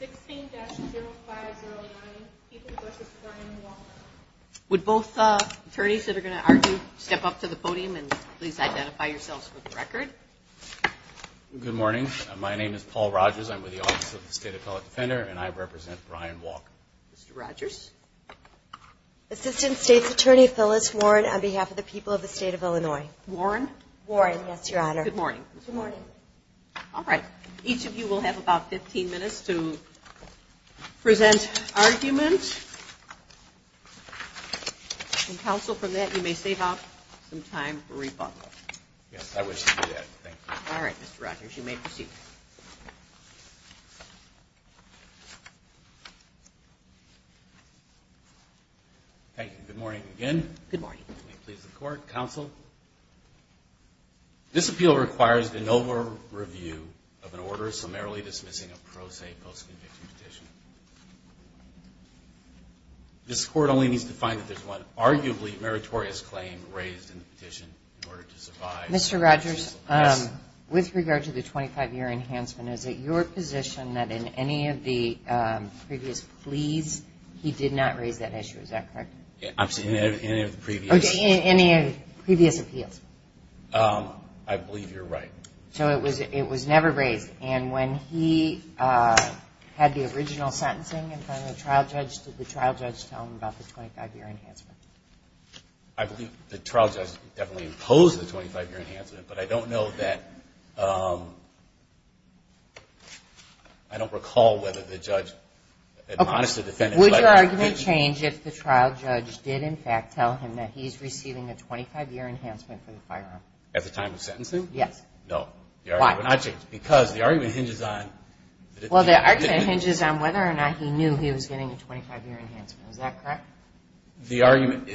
16-0509, Ethan v. Brian Walker. Would both attorneys that are going to argue step up to the podium and please identify yourselves for the record. Good morning. My name is Paul Rogers. I'm with the Office of the State Appellate Defender and I represent Brian Walker. Mr. Rogers. Assistant State's Attorney Phyllis Warren on behalf of the people of the State of Illinois. Warren. Warren, yes, Your Honor. Good morning. Good morning. All right. Each of you will have about 15 minutes to present argument. And, counsel, from that you may save up some time for rebuttal. Yes, I wish to do that. Thank you. All right, Mr. Rogers. You may proceed. Thank you. Good morning again. Good morning. May it please the Court. Counsel. This appeal requires an over-review of an order summarily dismissing a pro se post-conviction petition. This Court only needs to find that there's one arguably meritorious claim raised in the petition in order to survive. Mr. Rogers. Yes. With regard to the 25-year enhancement, is it your position that in any of the previous pleas he did not raise that issue? Is that correct? In any of the previous... In any of the previous appeals. I believe you're right. So it was never raised. And when he had the original sentencing in front of the trial judge, did the trial judge tell him about the 25-year enhancement? I believe the trial judge definitely imposed the 25-year enhancement, but I don't know that... I don't recall whether the judge admonished the defendant... Would your argument change if the trial judge did, in fact, tell him that he's receiving a 25-year enhancement for the firearm? At the time of sentencing? Yes. No. Why? Because the argument hinges on... Well, the argument hinges on whether or not he knew he was getting a 25-year enhancement. Is that correct? The argument...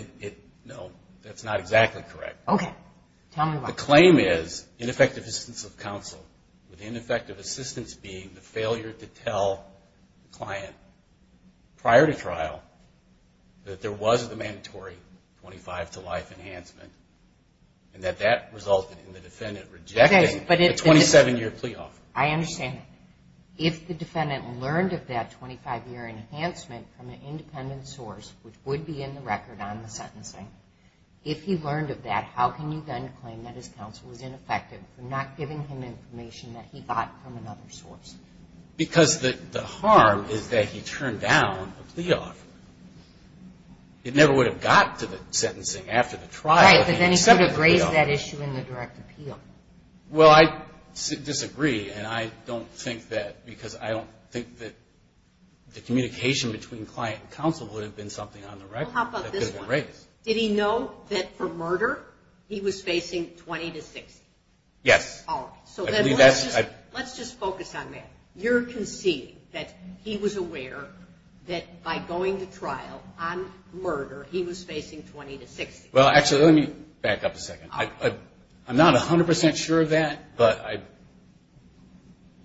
No, that's not exactly correct. Okay. Tell me why. The claim is ineffective assistance of counsel, with ineffective assistance being the failure to tell the client prior to trial that there was a mandatory 25-to-life enhancement. And that that resulted in the defendant rejecting the 27-year plea offer. I understand. If the defendant learned of that 25-year enhancement from an independent source, which would be in the record on the sentencing, if he learned of that, how can you then claim that his counsel was ineffective for not giving him information that he got from another source? Because the harm is that he turned down a plea offer. It never would have got to the sentencing after the trial. Right, but then he could have raised that issue in the direct appeal. Well, I disagree, and I don't think that because I don't think that the communication between client and counsel would have been something on the record. Well, how about this one? Right. Did he know that for murder, he was facing 20-to-60? Yes. All right. So let's just focus on that. You're conceding that he was aware that by going to trial on murder, he was facing 20-to-60. Well, actually, let me back up a second. I'm not 100% sure of that, but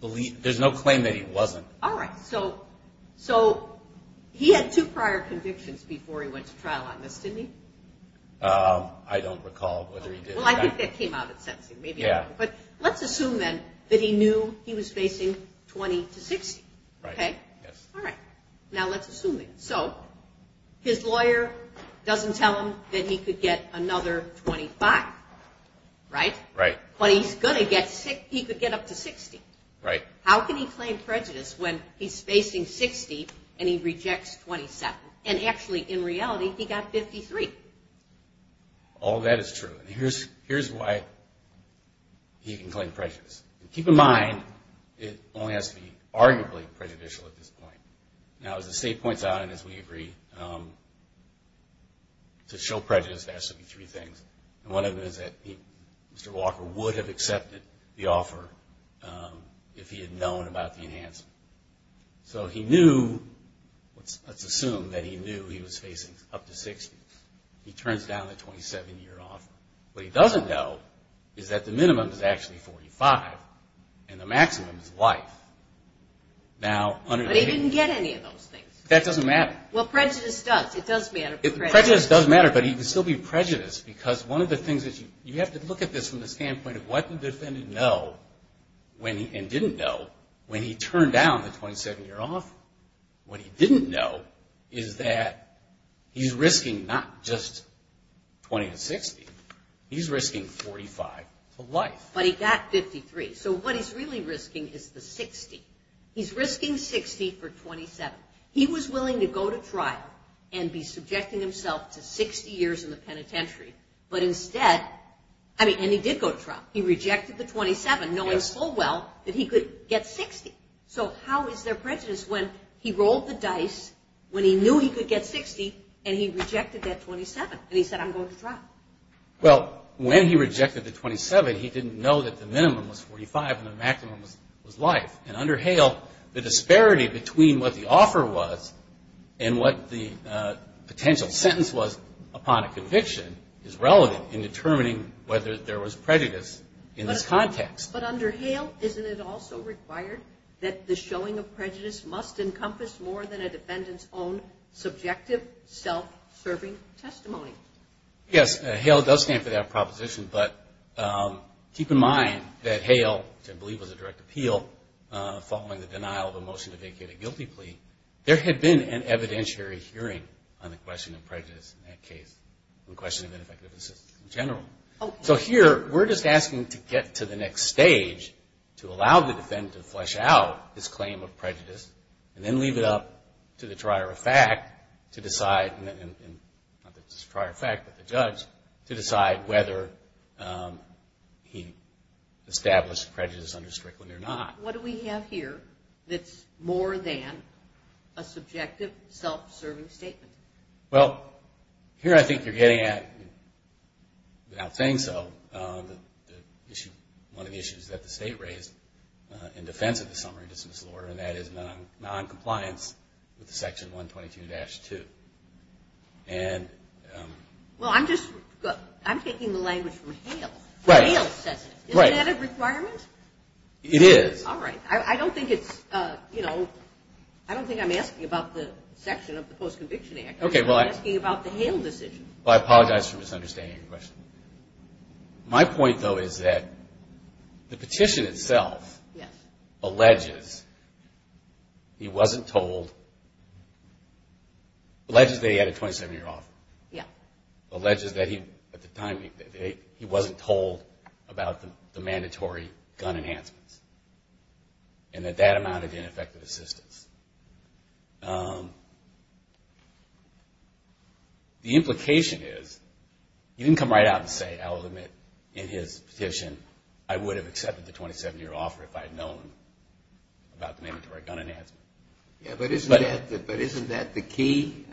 there's no claim that he wasn't. All right. So he had two prior convictions before he went to trial on this, didn't he? I don't recall whether he did. Well, I think that came out at sentencing. Yeah. But let's assume then that he knew he was facing 20-to-60. Right. All right. Now let's assume it. So his lawyer doesn't tell him that he could get another 25, right? Right. But he's going to get 60. He could get up to 60. Right. How can he claim prejudice when he's facing 60 and he rejects 27? And actually, in reality, he got 53. All that is true. Here's why he can claim prejudice. Keep in mind, it only has to be arguably prejudicial at this point. Now, as the state points out and as we agree, to show prejudice, there has to be three things. And one of them is that Mr. Walker would have accepted the offer if he had known about the enhancement. So he knew, let's assume that he knew he was facing up to 60. He turns down the 27-year offer. What he doesn't know is that the minimum is actually 45 and the maximum is life. But he didn't get any of those things. That doesn't matter. Well, prejudice does. It does matter. Prejudice does matter, but he would still be prejudiced because one of the things that you have to look at this from the standpoint of what the defendant know and didn't know when he turned down the 27-year offer. What he didn't know is that he's risking not just 20 to 60. He's risking 45 to life. But he got 53. So what he's really risking is the 60. He's risking 60 for 27. He was willing to go to trial and be subjecting himself to 60 years in the penitentiary. But instead, I mean, and he did go to trial. He rejected the 27, knowing full well that he could get 60. So how is there prejudice when he rolled the dice, when he knew he could get 60, and he rejected that 27? And he said, I'm going to trial. Well, when he rejected the 27, he didn't know that the minimum was 45 and the maximum was life. And under Hale, the disparity between what the offer was and what the potential sentence was upon a conviction is relevant in determining whether there was prejudice in this context. But under Hale, isn't it also required that the showing of prejudice must encompass more than a defendant's own subjective, self-serving testimony? Yes, Hale does stand for that proposition. But keep in mind that Hale, which I believe was a direct appeal following the denial of a motion to vacate a guilty plea, there had been an evidentiary hearing on the question of prejudice in that case, on the question of ineffective assistance in general. So here, we're just asking to get to the next stage, to allow the defendant to flesh out his claim of prejudice and then leave it up to the trier of fact to decide whether he established prejudice under Strickland or not. What do we have here that's more than a subjective, self-serving statement? Well, here I think you're getting at, without saying so, one of the issues that the state raised in defense of the summary dismissal order, and that is noncompliance with Section 122-2. Well, I'm taking the language from Hale. Hale says it. Is that a requirement? It is. All right. I don't think I'm asking about the section of the Post-Conviction Act. I'm asking about the Hale decision. Well, I apologize for misunderstanding your question. My point, though, is that the petition itself alleges he wasn't told, alleges that he had a 27-year offer. Yeah. Alleges that he, at the time, he wasn't told about the mandatory gun enhancements and that that amounted to ineffective assistance. The implication is he didn't come right out and say, I will admit, in his petition, I would have accepted the 27-year offer if I had known about the mandatory gun enhancement. Yeah, but isn't that the key?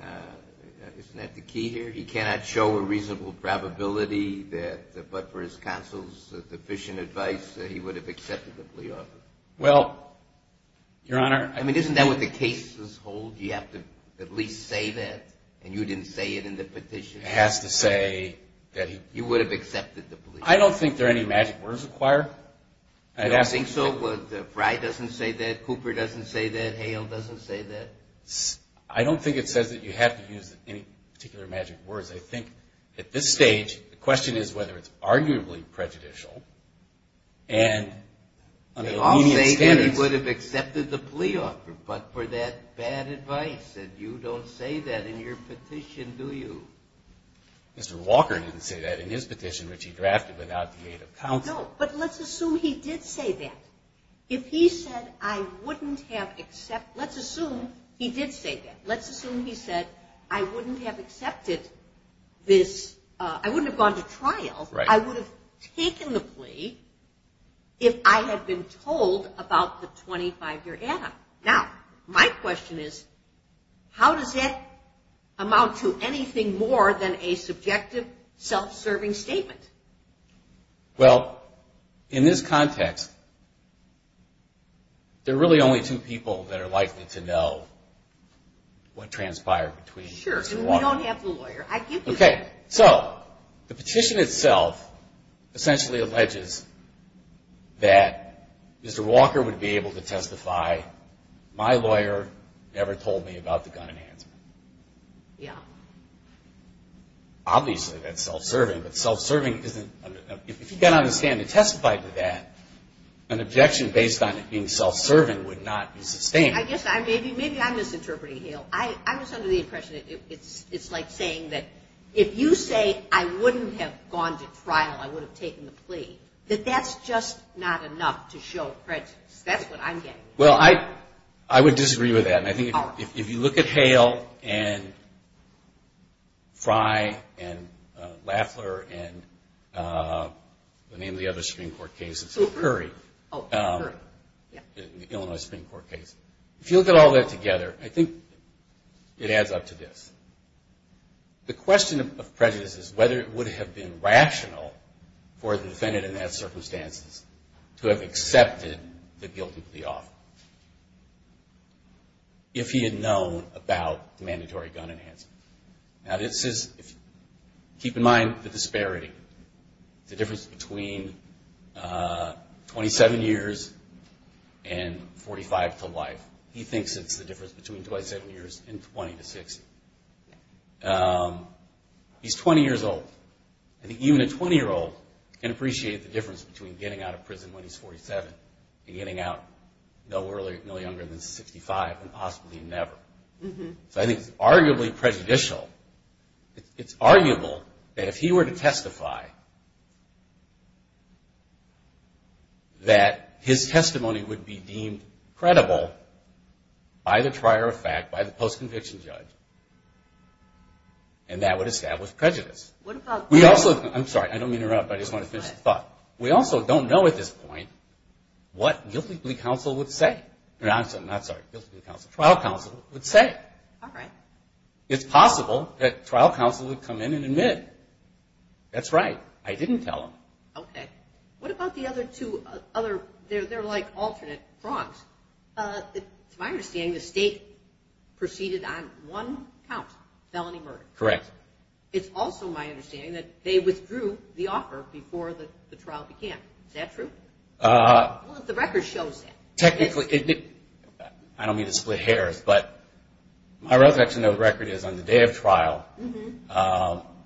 Isn't that the key here? He cannot show a reasonable probability that, but for his counsel's deficient advice, he would have accepted the plea offer. Well, Your Honor. I mean, isn't that what the cases hold? You have to at least say that, and you didn't say it in the petition. It has to say that he. You would have accepted the plea offer. I don't think there are any magic words required. I don't think so. Fry doesn't say that. Cooper doesn't say that. Hale doesn't say that. I don't think it says that you have to use any particular magic words. I think at this stage, the question is whether it's arguably prejudicial, and under immediate standards. They all say that he would have accepted the plea offer, but for that bad advice, and you don't say that in your petition, do you? Mr. Walker didn't say that in his petition, which he drafted without the aid of counsel. No, but let's assume he did say that. If he said, I wouldn't have accepted – let's assume he did say that. Let's assume he said, I wouldn't have accepted this – I wouldn't have gone to trial. Right. I would have taken the plea if I had been told about the 25-year add-up. Now, my question is, how does that amount to anything more than a subjective, self-serving statement? Well, in this context, there are really only two people that are likely to know what transpired between Cooper and Walker. Sure, and we don't have the lawyer. I give you that. Okay. So, the petition itself essentially alleges that Mr. Walker would be able to testify, my lawyer never told me about the gun enhancement. Yeah. Obviously, that's self-serving, but self-serving isn't – if you can't understand and testify to that, an objection based on it being self-serving would not be sustained. I guess maybe I'm misinterpreting, Hale. I was under the impression that it's like saying that if you say, I wouldn't have gone to trial, I would have taken the plea, that that's just not enough to show prejudice. That's what I'm getting at. Well, I would disagree with that. If you look at Hale and Frye and Laffler and the name of the other Supreme Court case, it's Curry, the Illinois Supreme Court case. If you look at all that together, I think it adds up to this. The question of prejudice is whether it would have been rational for the defendant in those circumstances to have accepted the guilty plea offer if he had known about the mandatory gun enhancement. Now, this is – keep in mind the disparity. The difference between 27 years and 45 to life. He thinks it's the difference between 27 years and 20 to 60. He's 20 years old. I think even a 20-year-old can appreciate the difference between getting out of prison when he's 47 and getting out no younger than 65 and possibly never. So I think it's arguably prejudicial. It's arguable that if he were to testify, that his testimony would be deemed credible by the trier of fact, by the post-conviction judge, and that would establish prejudice. I'm sorry. I don't mean to interrupt, but I just want to finish the thought. We also don't know at this point what guilty plea trial counsel would say. All right. It's possible that trial counsel would come in and admit. That's right. I didn't tell them. Okay. What about the other two? They're like alternate prongs. It's my understanding the state proceeded on one count, felony murder. Correct. It's also my understanding that they withdrew the offer before the trial began. Is that true? Well, if the record shows that. Technically, I don't mean to split hairs, but my recollection of the record is on the day of trial,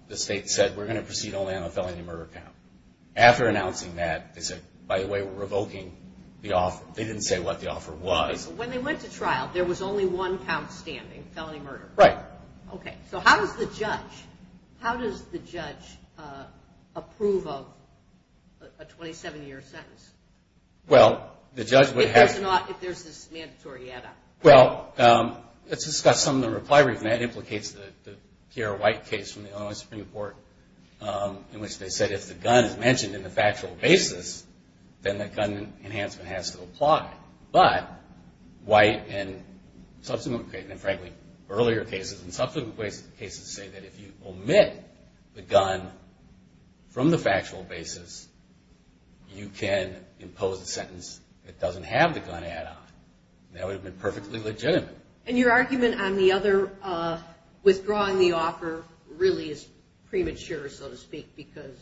the state said we're going to proceed only on the felony murder count. After announcing that, they said, by the way, we're revoking the offer. They didn't say what the offer was. When they went to trial, there was only one count standing, felony murder. Right. Okay. So how does the judge approve of a 27-year sentence? Well, the judge would have to. If there's this mandatory add-on. Well, let's discuss some of the reply we've made. It implicates the Pierre White case from the Illinois Supreme Court, in which they said if the gun is mentioned in the factual basis, then the gun enhancement has to apply. But White and subsequent cases, and frankly earlier cases, and subsequent cases say that if you omit the gun from the factual basis, you can impose a sentence that doesn't have the gun add-on. That would have been perfectly legitimate. And your argument on the other withdrawing the offer really is premature, so to speak, because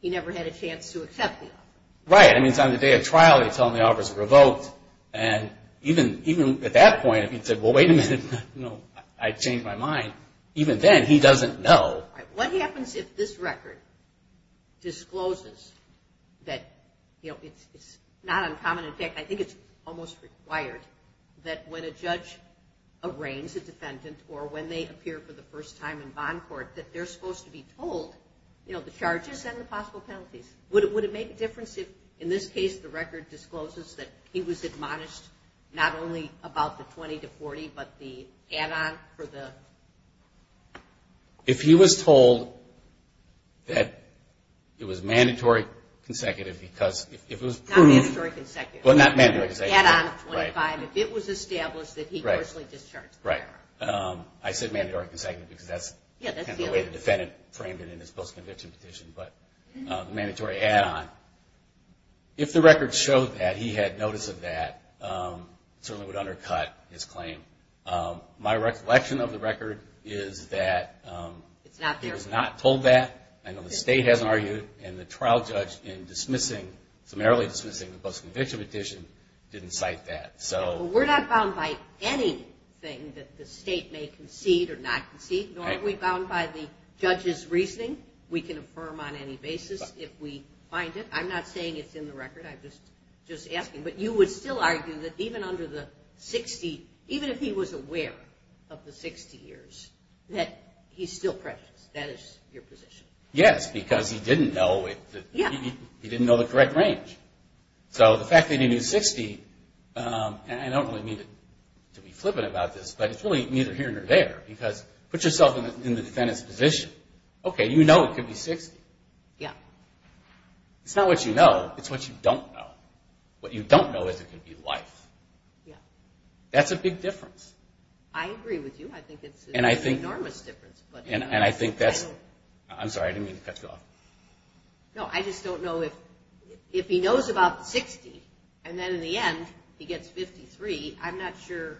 he never had a chance to accept the offer. Right. I mean, it's on the day of trial, they tell him the offer is revoked. And even at that point, if he said, well, wait a minute, I changed my mind, even then he doesn't know. What happens if this record discloses that, you know, it's not uncommon, in fact, I think it's almost required, that when a judge arraigns a defendant or when they appear for the first time in bond court, that they're supposed to be told, you know, the charges and the possible penalties. Would it make a difference if, in this case, the record discloses that he was admonished not only about the 20 to 40, but the add-on for the? If he was told that it was mandatory consecutive because if it was proved. Not mandatory consecutive. Well, not mandatory consecutive. Add-on of 25. Right. If it was established that he grossly discharged the firearm. Right. I said mandatory consecutive because that's kind of the way the defendant framed it in his post-conviction petition, but mandatory add-on. If the record showed that he had notice of that, it certainly would undercut his claim. My recollection of the record is that he was not told that. I know the state hasn't argued, and the trial judge in dismissing, summarily dismissing the post-conviction petition, didn't cite that. We're not bound by anything that the state may concede or not concede, nor are we bound by the judge's reasoning. We can affirm on any basis if we find it. I'm not saying it's in the record, I'm just asking. But you would still argue that even under the 60, even if he was aware of the 60 years, that he's still prejudiced. That is your position. Yes, because he didn't know the correct range. So the fact that he knew 60, and I don't really mean to be flippant about this, but it's really neither here nor there because put yourself in the defendant's position. Okay, you know it could be 60. Yeah. It's not what you know, it's what you don't know. What you don't know is it could be life. Yeah. That's a big difference. I agree with you. I think it's an enormous difference. And I think that's, I'm sorry, I didn't mean to cut you off. No, I just don't know if he knows about the 60, and then in the end he gets 53, I'm not sure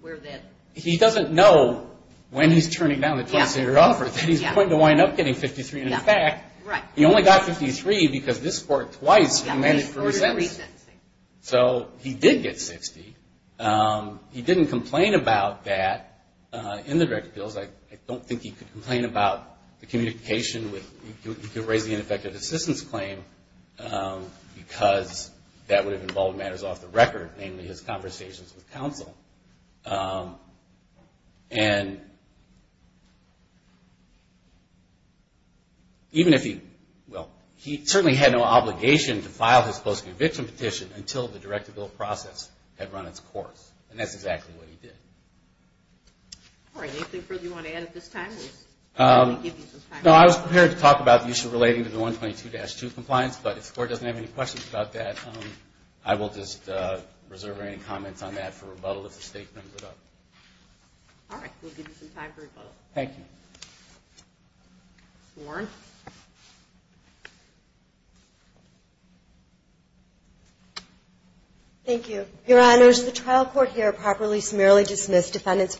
where that. He doesn't know when he's turning down the twice-a-year offer that he's going to wind up getting 53. In fact, he only got 53 because this court twice didn't manage for his sentence. So he did get 60. He didn't complain about that in the direct appeals. I don't think he could complain about the communication with, he could raise the ineffective assistance claim because that would have And even if he, well, he certainly had no obligation to file his post-conviction petition until the direct appeal process had run its course, and that's exactly what he did. All right. Anything further you want to add at this time? No, I was prepared to talk about the issue relating to the 122-2 compliance, but if the court doesn't have any questions about that, I will just reserve any comments on that for rebuttal if the statement ends it up. All right. We'll give you some time for rebuttal. Thank you. Warren. Thank you. Your Honors, the trial court here properly, summarily dismissed defendant's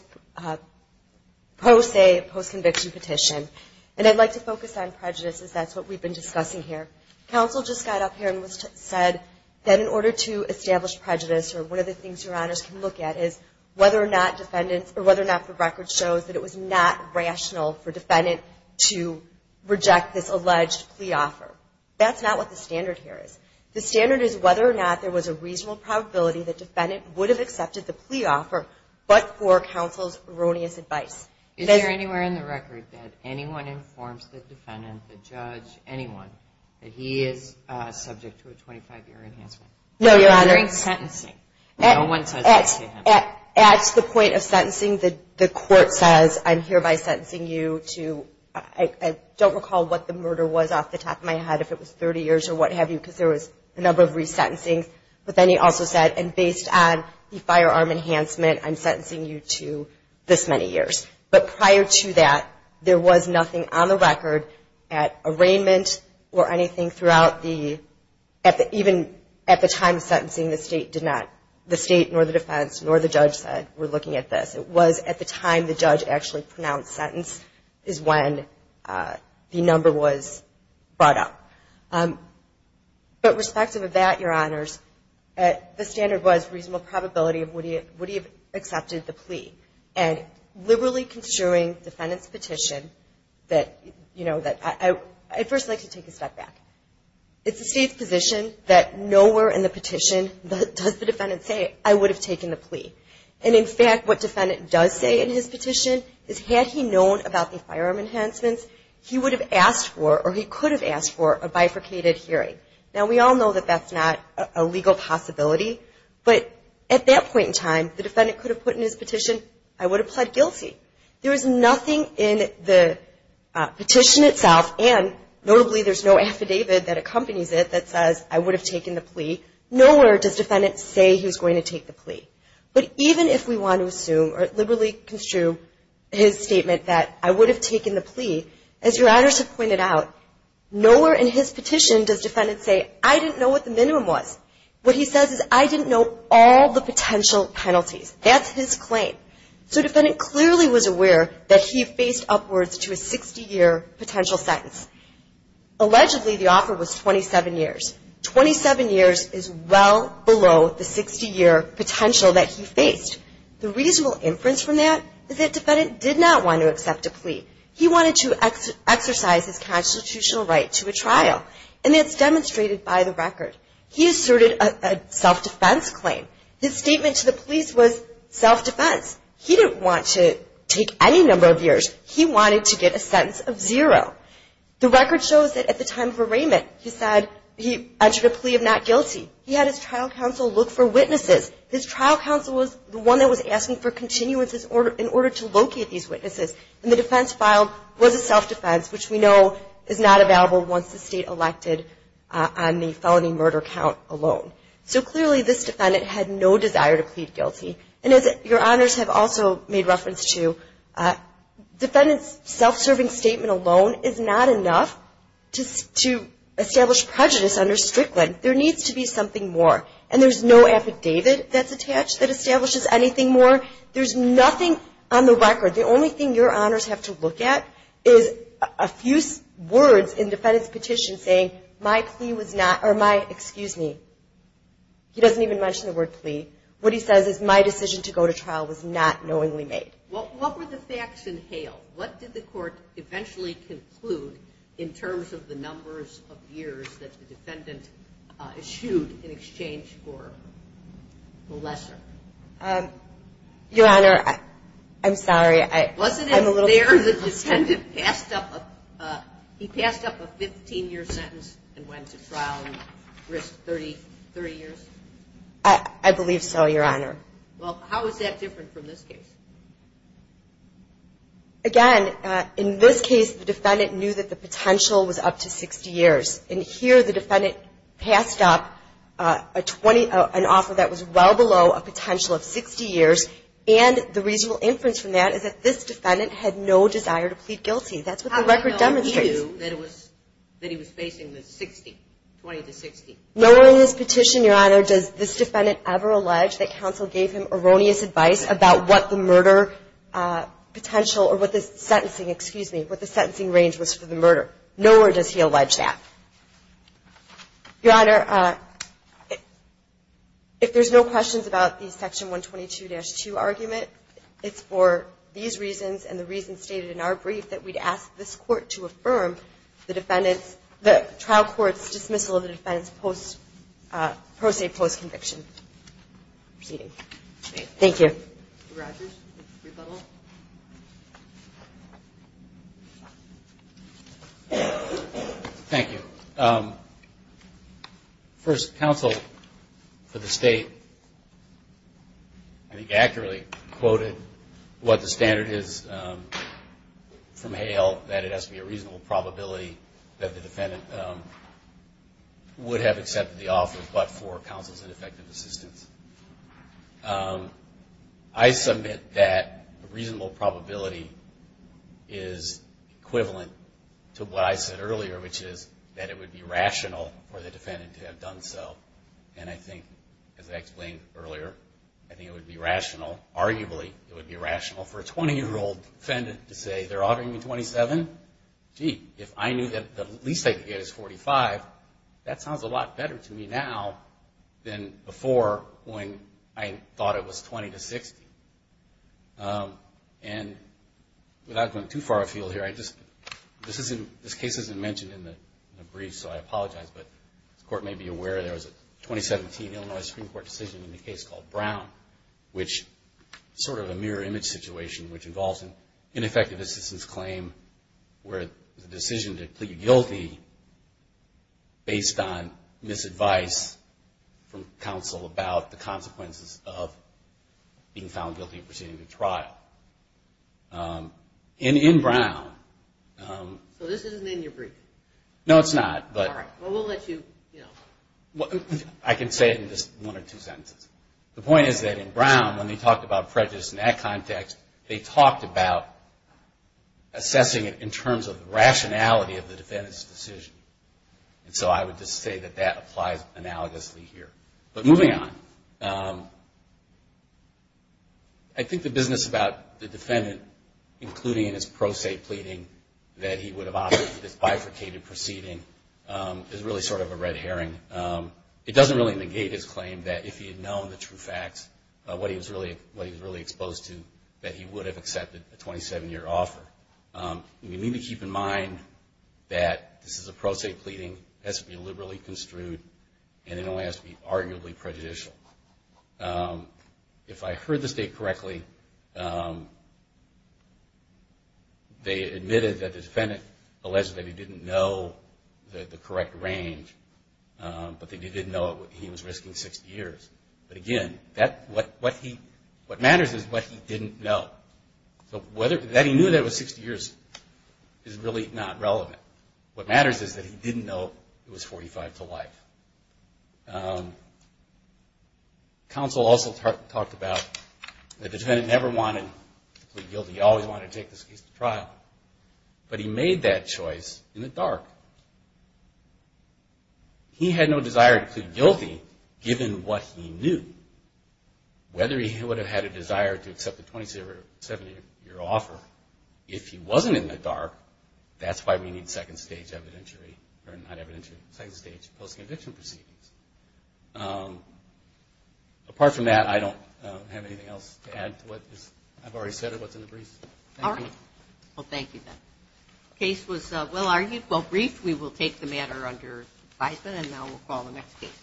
post-conviction petition, and I'd like to focus on prejudice, as that's what we've been discussing here. Counsel just got up here and said that in order to establish prejudice, or one of the things Your Honors can look at is whether or not the record shows that it was not rational for defendant to reject this alleged plea offer. That's not what the standard here is. The standard is whether or not there was a reasonable probability that defendant would have accepted the plea offer, but for counsel's erroneous advice. Is there anywhere in the record that anyone informs the defendant, the judge, anyone, that he is subject to a 25-year enhancement? No, Your Honors. During sentencing. No one says that to him. At the point of sentencing, the court says, I'm hereby sentencing you to, I don't recall what the murder was off the top of my head, if it was 30 years or what have you, because there was a number of resentencing. But then he also said, and based on the firearm enhancement, I'm sentencing you to this many years. But prior to that, there was nothing on the record at arraignment or anything throughout the, even at the time of sentencing, the state did not, the state nor the defense nor the judge said, we're looking at this. It was at the time the judge actually pronounced sentence is when the number was brought up. But respective of that, Your Honors, the standard was reasonable probability of would he have accepted the plea. And liberally construing defendant's petition that, you know, I'd first like to take a step back. It's the state's position that nowhere in the petition does the defendant say, I would have taken the plea. And in fact, what defendant does say in his petition is, had he known about the firearm enhancements, he would have asked for or he could have asked for a bifurcated hearing. Now, we all know that that's not a legal possibility. But at that point in time, the defendant could have put in his petition, I would have pled guilty. There is nothing in the petition itself, and notably there's no affidavit that accompanies it that says, I would have taken the plea. Nowhere does defendant say he's going to take the plea. But even if we want to assume or liberally construe his statement that, I would have taken the plea, as Your Honors have pointed out, nowhere in his petition does defendant say, I didn't know what the minimum was. What he says is, I didn't know all the potential penalties. That's his claim. So defendant clearly was aware that he faced upwards to a 60-year potential sentence. Allegedly, the offer was 27 years. Twenty-seven years is well below the 60-year potential that he faced. The reasonable inference from that is that defendant did not want to accept a plea. He wanted to exercise his constitutional right to a trial, and that's demonstrated by the record. He asserted a self-defense claim. His statement to the police was self-defense. He didn't want to take any number of years. He wanted to get a sentence of zero. The record shows that at the time of arraignment, he said he entered a plea of not guilty. He had his trial counsel look for witnesses. His trial counsel was the one that was asking for continuances in order to locate these witnesses. And the defense filed was a self-defense, which we know is not available once the state elected on the felony murder count alone. So clearly this defendant had no desire to plead guilty. And as your honors have also made reference to, defendant's self-serving statement alone is not enough to establish prejudice under Strickland. There needs to be something more. And there's no affidavit that's attached that establishes anything more. There's nothing on the record. The only thing your honors have to look at is a few words in defendant's petition saying, my plea was not or my, excuse me, he doesn't even mention the word plea. What he says is my decision to go to trial was not knowingly made. What were the facts in Hale? What did the court eventually conclude in terms of the numbers of years that the defendant issued in exchange for the lesser? Your honor, I'm sorry. Wasn't it there the defendant passed up a 15-year sentence and went to trial and risked 30 years? I believe so, your honor. Well, how is that different from this case? Again, in this case the defendant knew that the potential was up to 60 years. And here the defendant passed up an offer that was well below a potential of 60 years, and the reasonable inference from that is that this defendant had no desire to plead guilty. That's what the record demonstrates. How did he know that he was facing the 60, 20 to 60? Nowhere in this petition, your honor, does this defendant ever allege that counsel gave him erroneous advice about what the murder potential or what the sentencing, excuse me, what the sentencing range was for the murder. Nowhere does he allege that. Your honor, if there's no questions about the section 122-2 argument, it's for these reasons and the reasons stated in our brief that we'd ask this court to affirm the defendant's, the trial court's dismissal of the defendant's pro se post conviction. Proceeding. Thank you. Mr. Rogers, rebuttal. Thank you. First, counsel for the state, I think accurately quoted what the standard is from Hale, that it has to be a reasonable probability that the defendant would have accepted the offer, but for counsel's ineffective assistance. I submit that a reasonable probability is equivalent to what I said earlier, which is that it would be rational for the defendant to have done so. And I think, as I explained earlier, I think it would be rational, arguably, it would be rational for a 20-year-old defendant to say they're ordering me 27. Gee, if I knew that the least I could get is 45, that sounds a lot better to me now than before when I thought it was 20 to 60. And without going too far afield here, this case isn't mentioned in the brief, so I apologize, but the court may be aware there was a 2017 Illinois Supreme Court decision in the case called Brown, which is sort of a mirror image situation which involves an ineffective assistance claim where the decision to plead guilty based on misadvice from counsel about the consequences of being found guilty of proceeding to trial. In Brown... So this isn't in your brief? No, it's not, but... All right, well, we'll let you, you know... I can say it in just one or two sentences. The point is that in Brown, when they talked about prejudice in that context, they talked about assessing it in terms of the rationality of the defendant's decision. And so I would just say that that applies analogously here. But moving on, I think the business about the defendant, including in his pro se pleading, that he would have opted for this bifurcated proceeding is really sort of a red herring. It doesn't really negate his claim that if he had known the true facts, what he was really exposed to, that he would have accepted a 27-year offer. We need to keep in mind that this is a pro se pleading. It has to be liberally construed, and it only has to be arguably prejudicial. If I heard the state correctly, they admitted that the defendant alleged that he didn't know the correct range, but they did know he was risking 60 years. But again, what matters is what he didn't know. So that he knew that it was 60 years is really not relevant. What matters is that he didn't know it was 45 to life. Counsel also talked about the defendant never wanted to plead guilty. He always wanted to take this case to trial. But he made that choice in the dark. He had no desire to plead guilty given what he knew. Whether he would have had a desire to accept a 27-year offer if he wasn't in the dark, that's why we need second stage evidentiary, or not evidentiary, second stage post-condition proceedings. Apart from that, I don't have anything else to add to what I've already said or what's in the briefs. All right. Well, thank you, Ben. Case was well argued, well briefed. We will take the matter under advisement, and now we'll call the next case.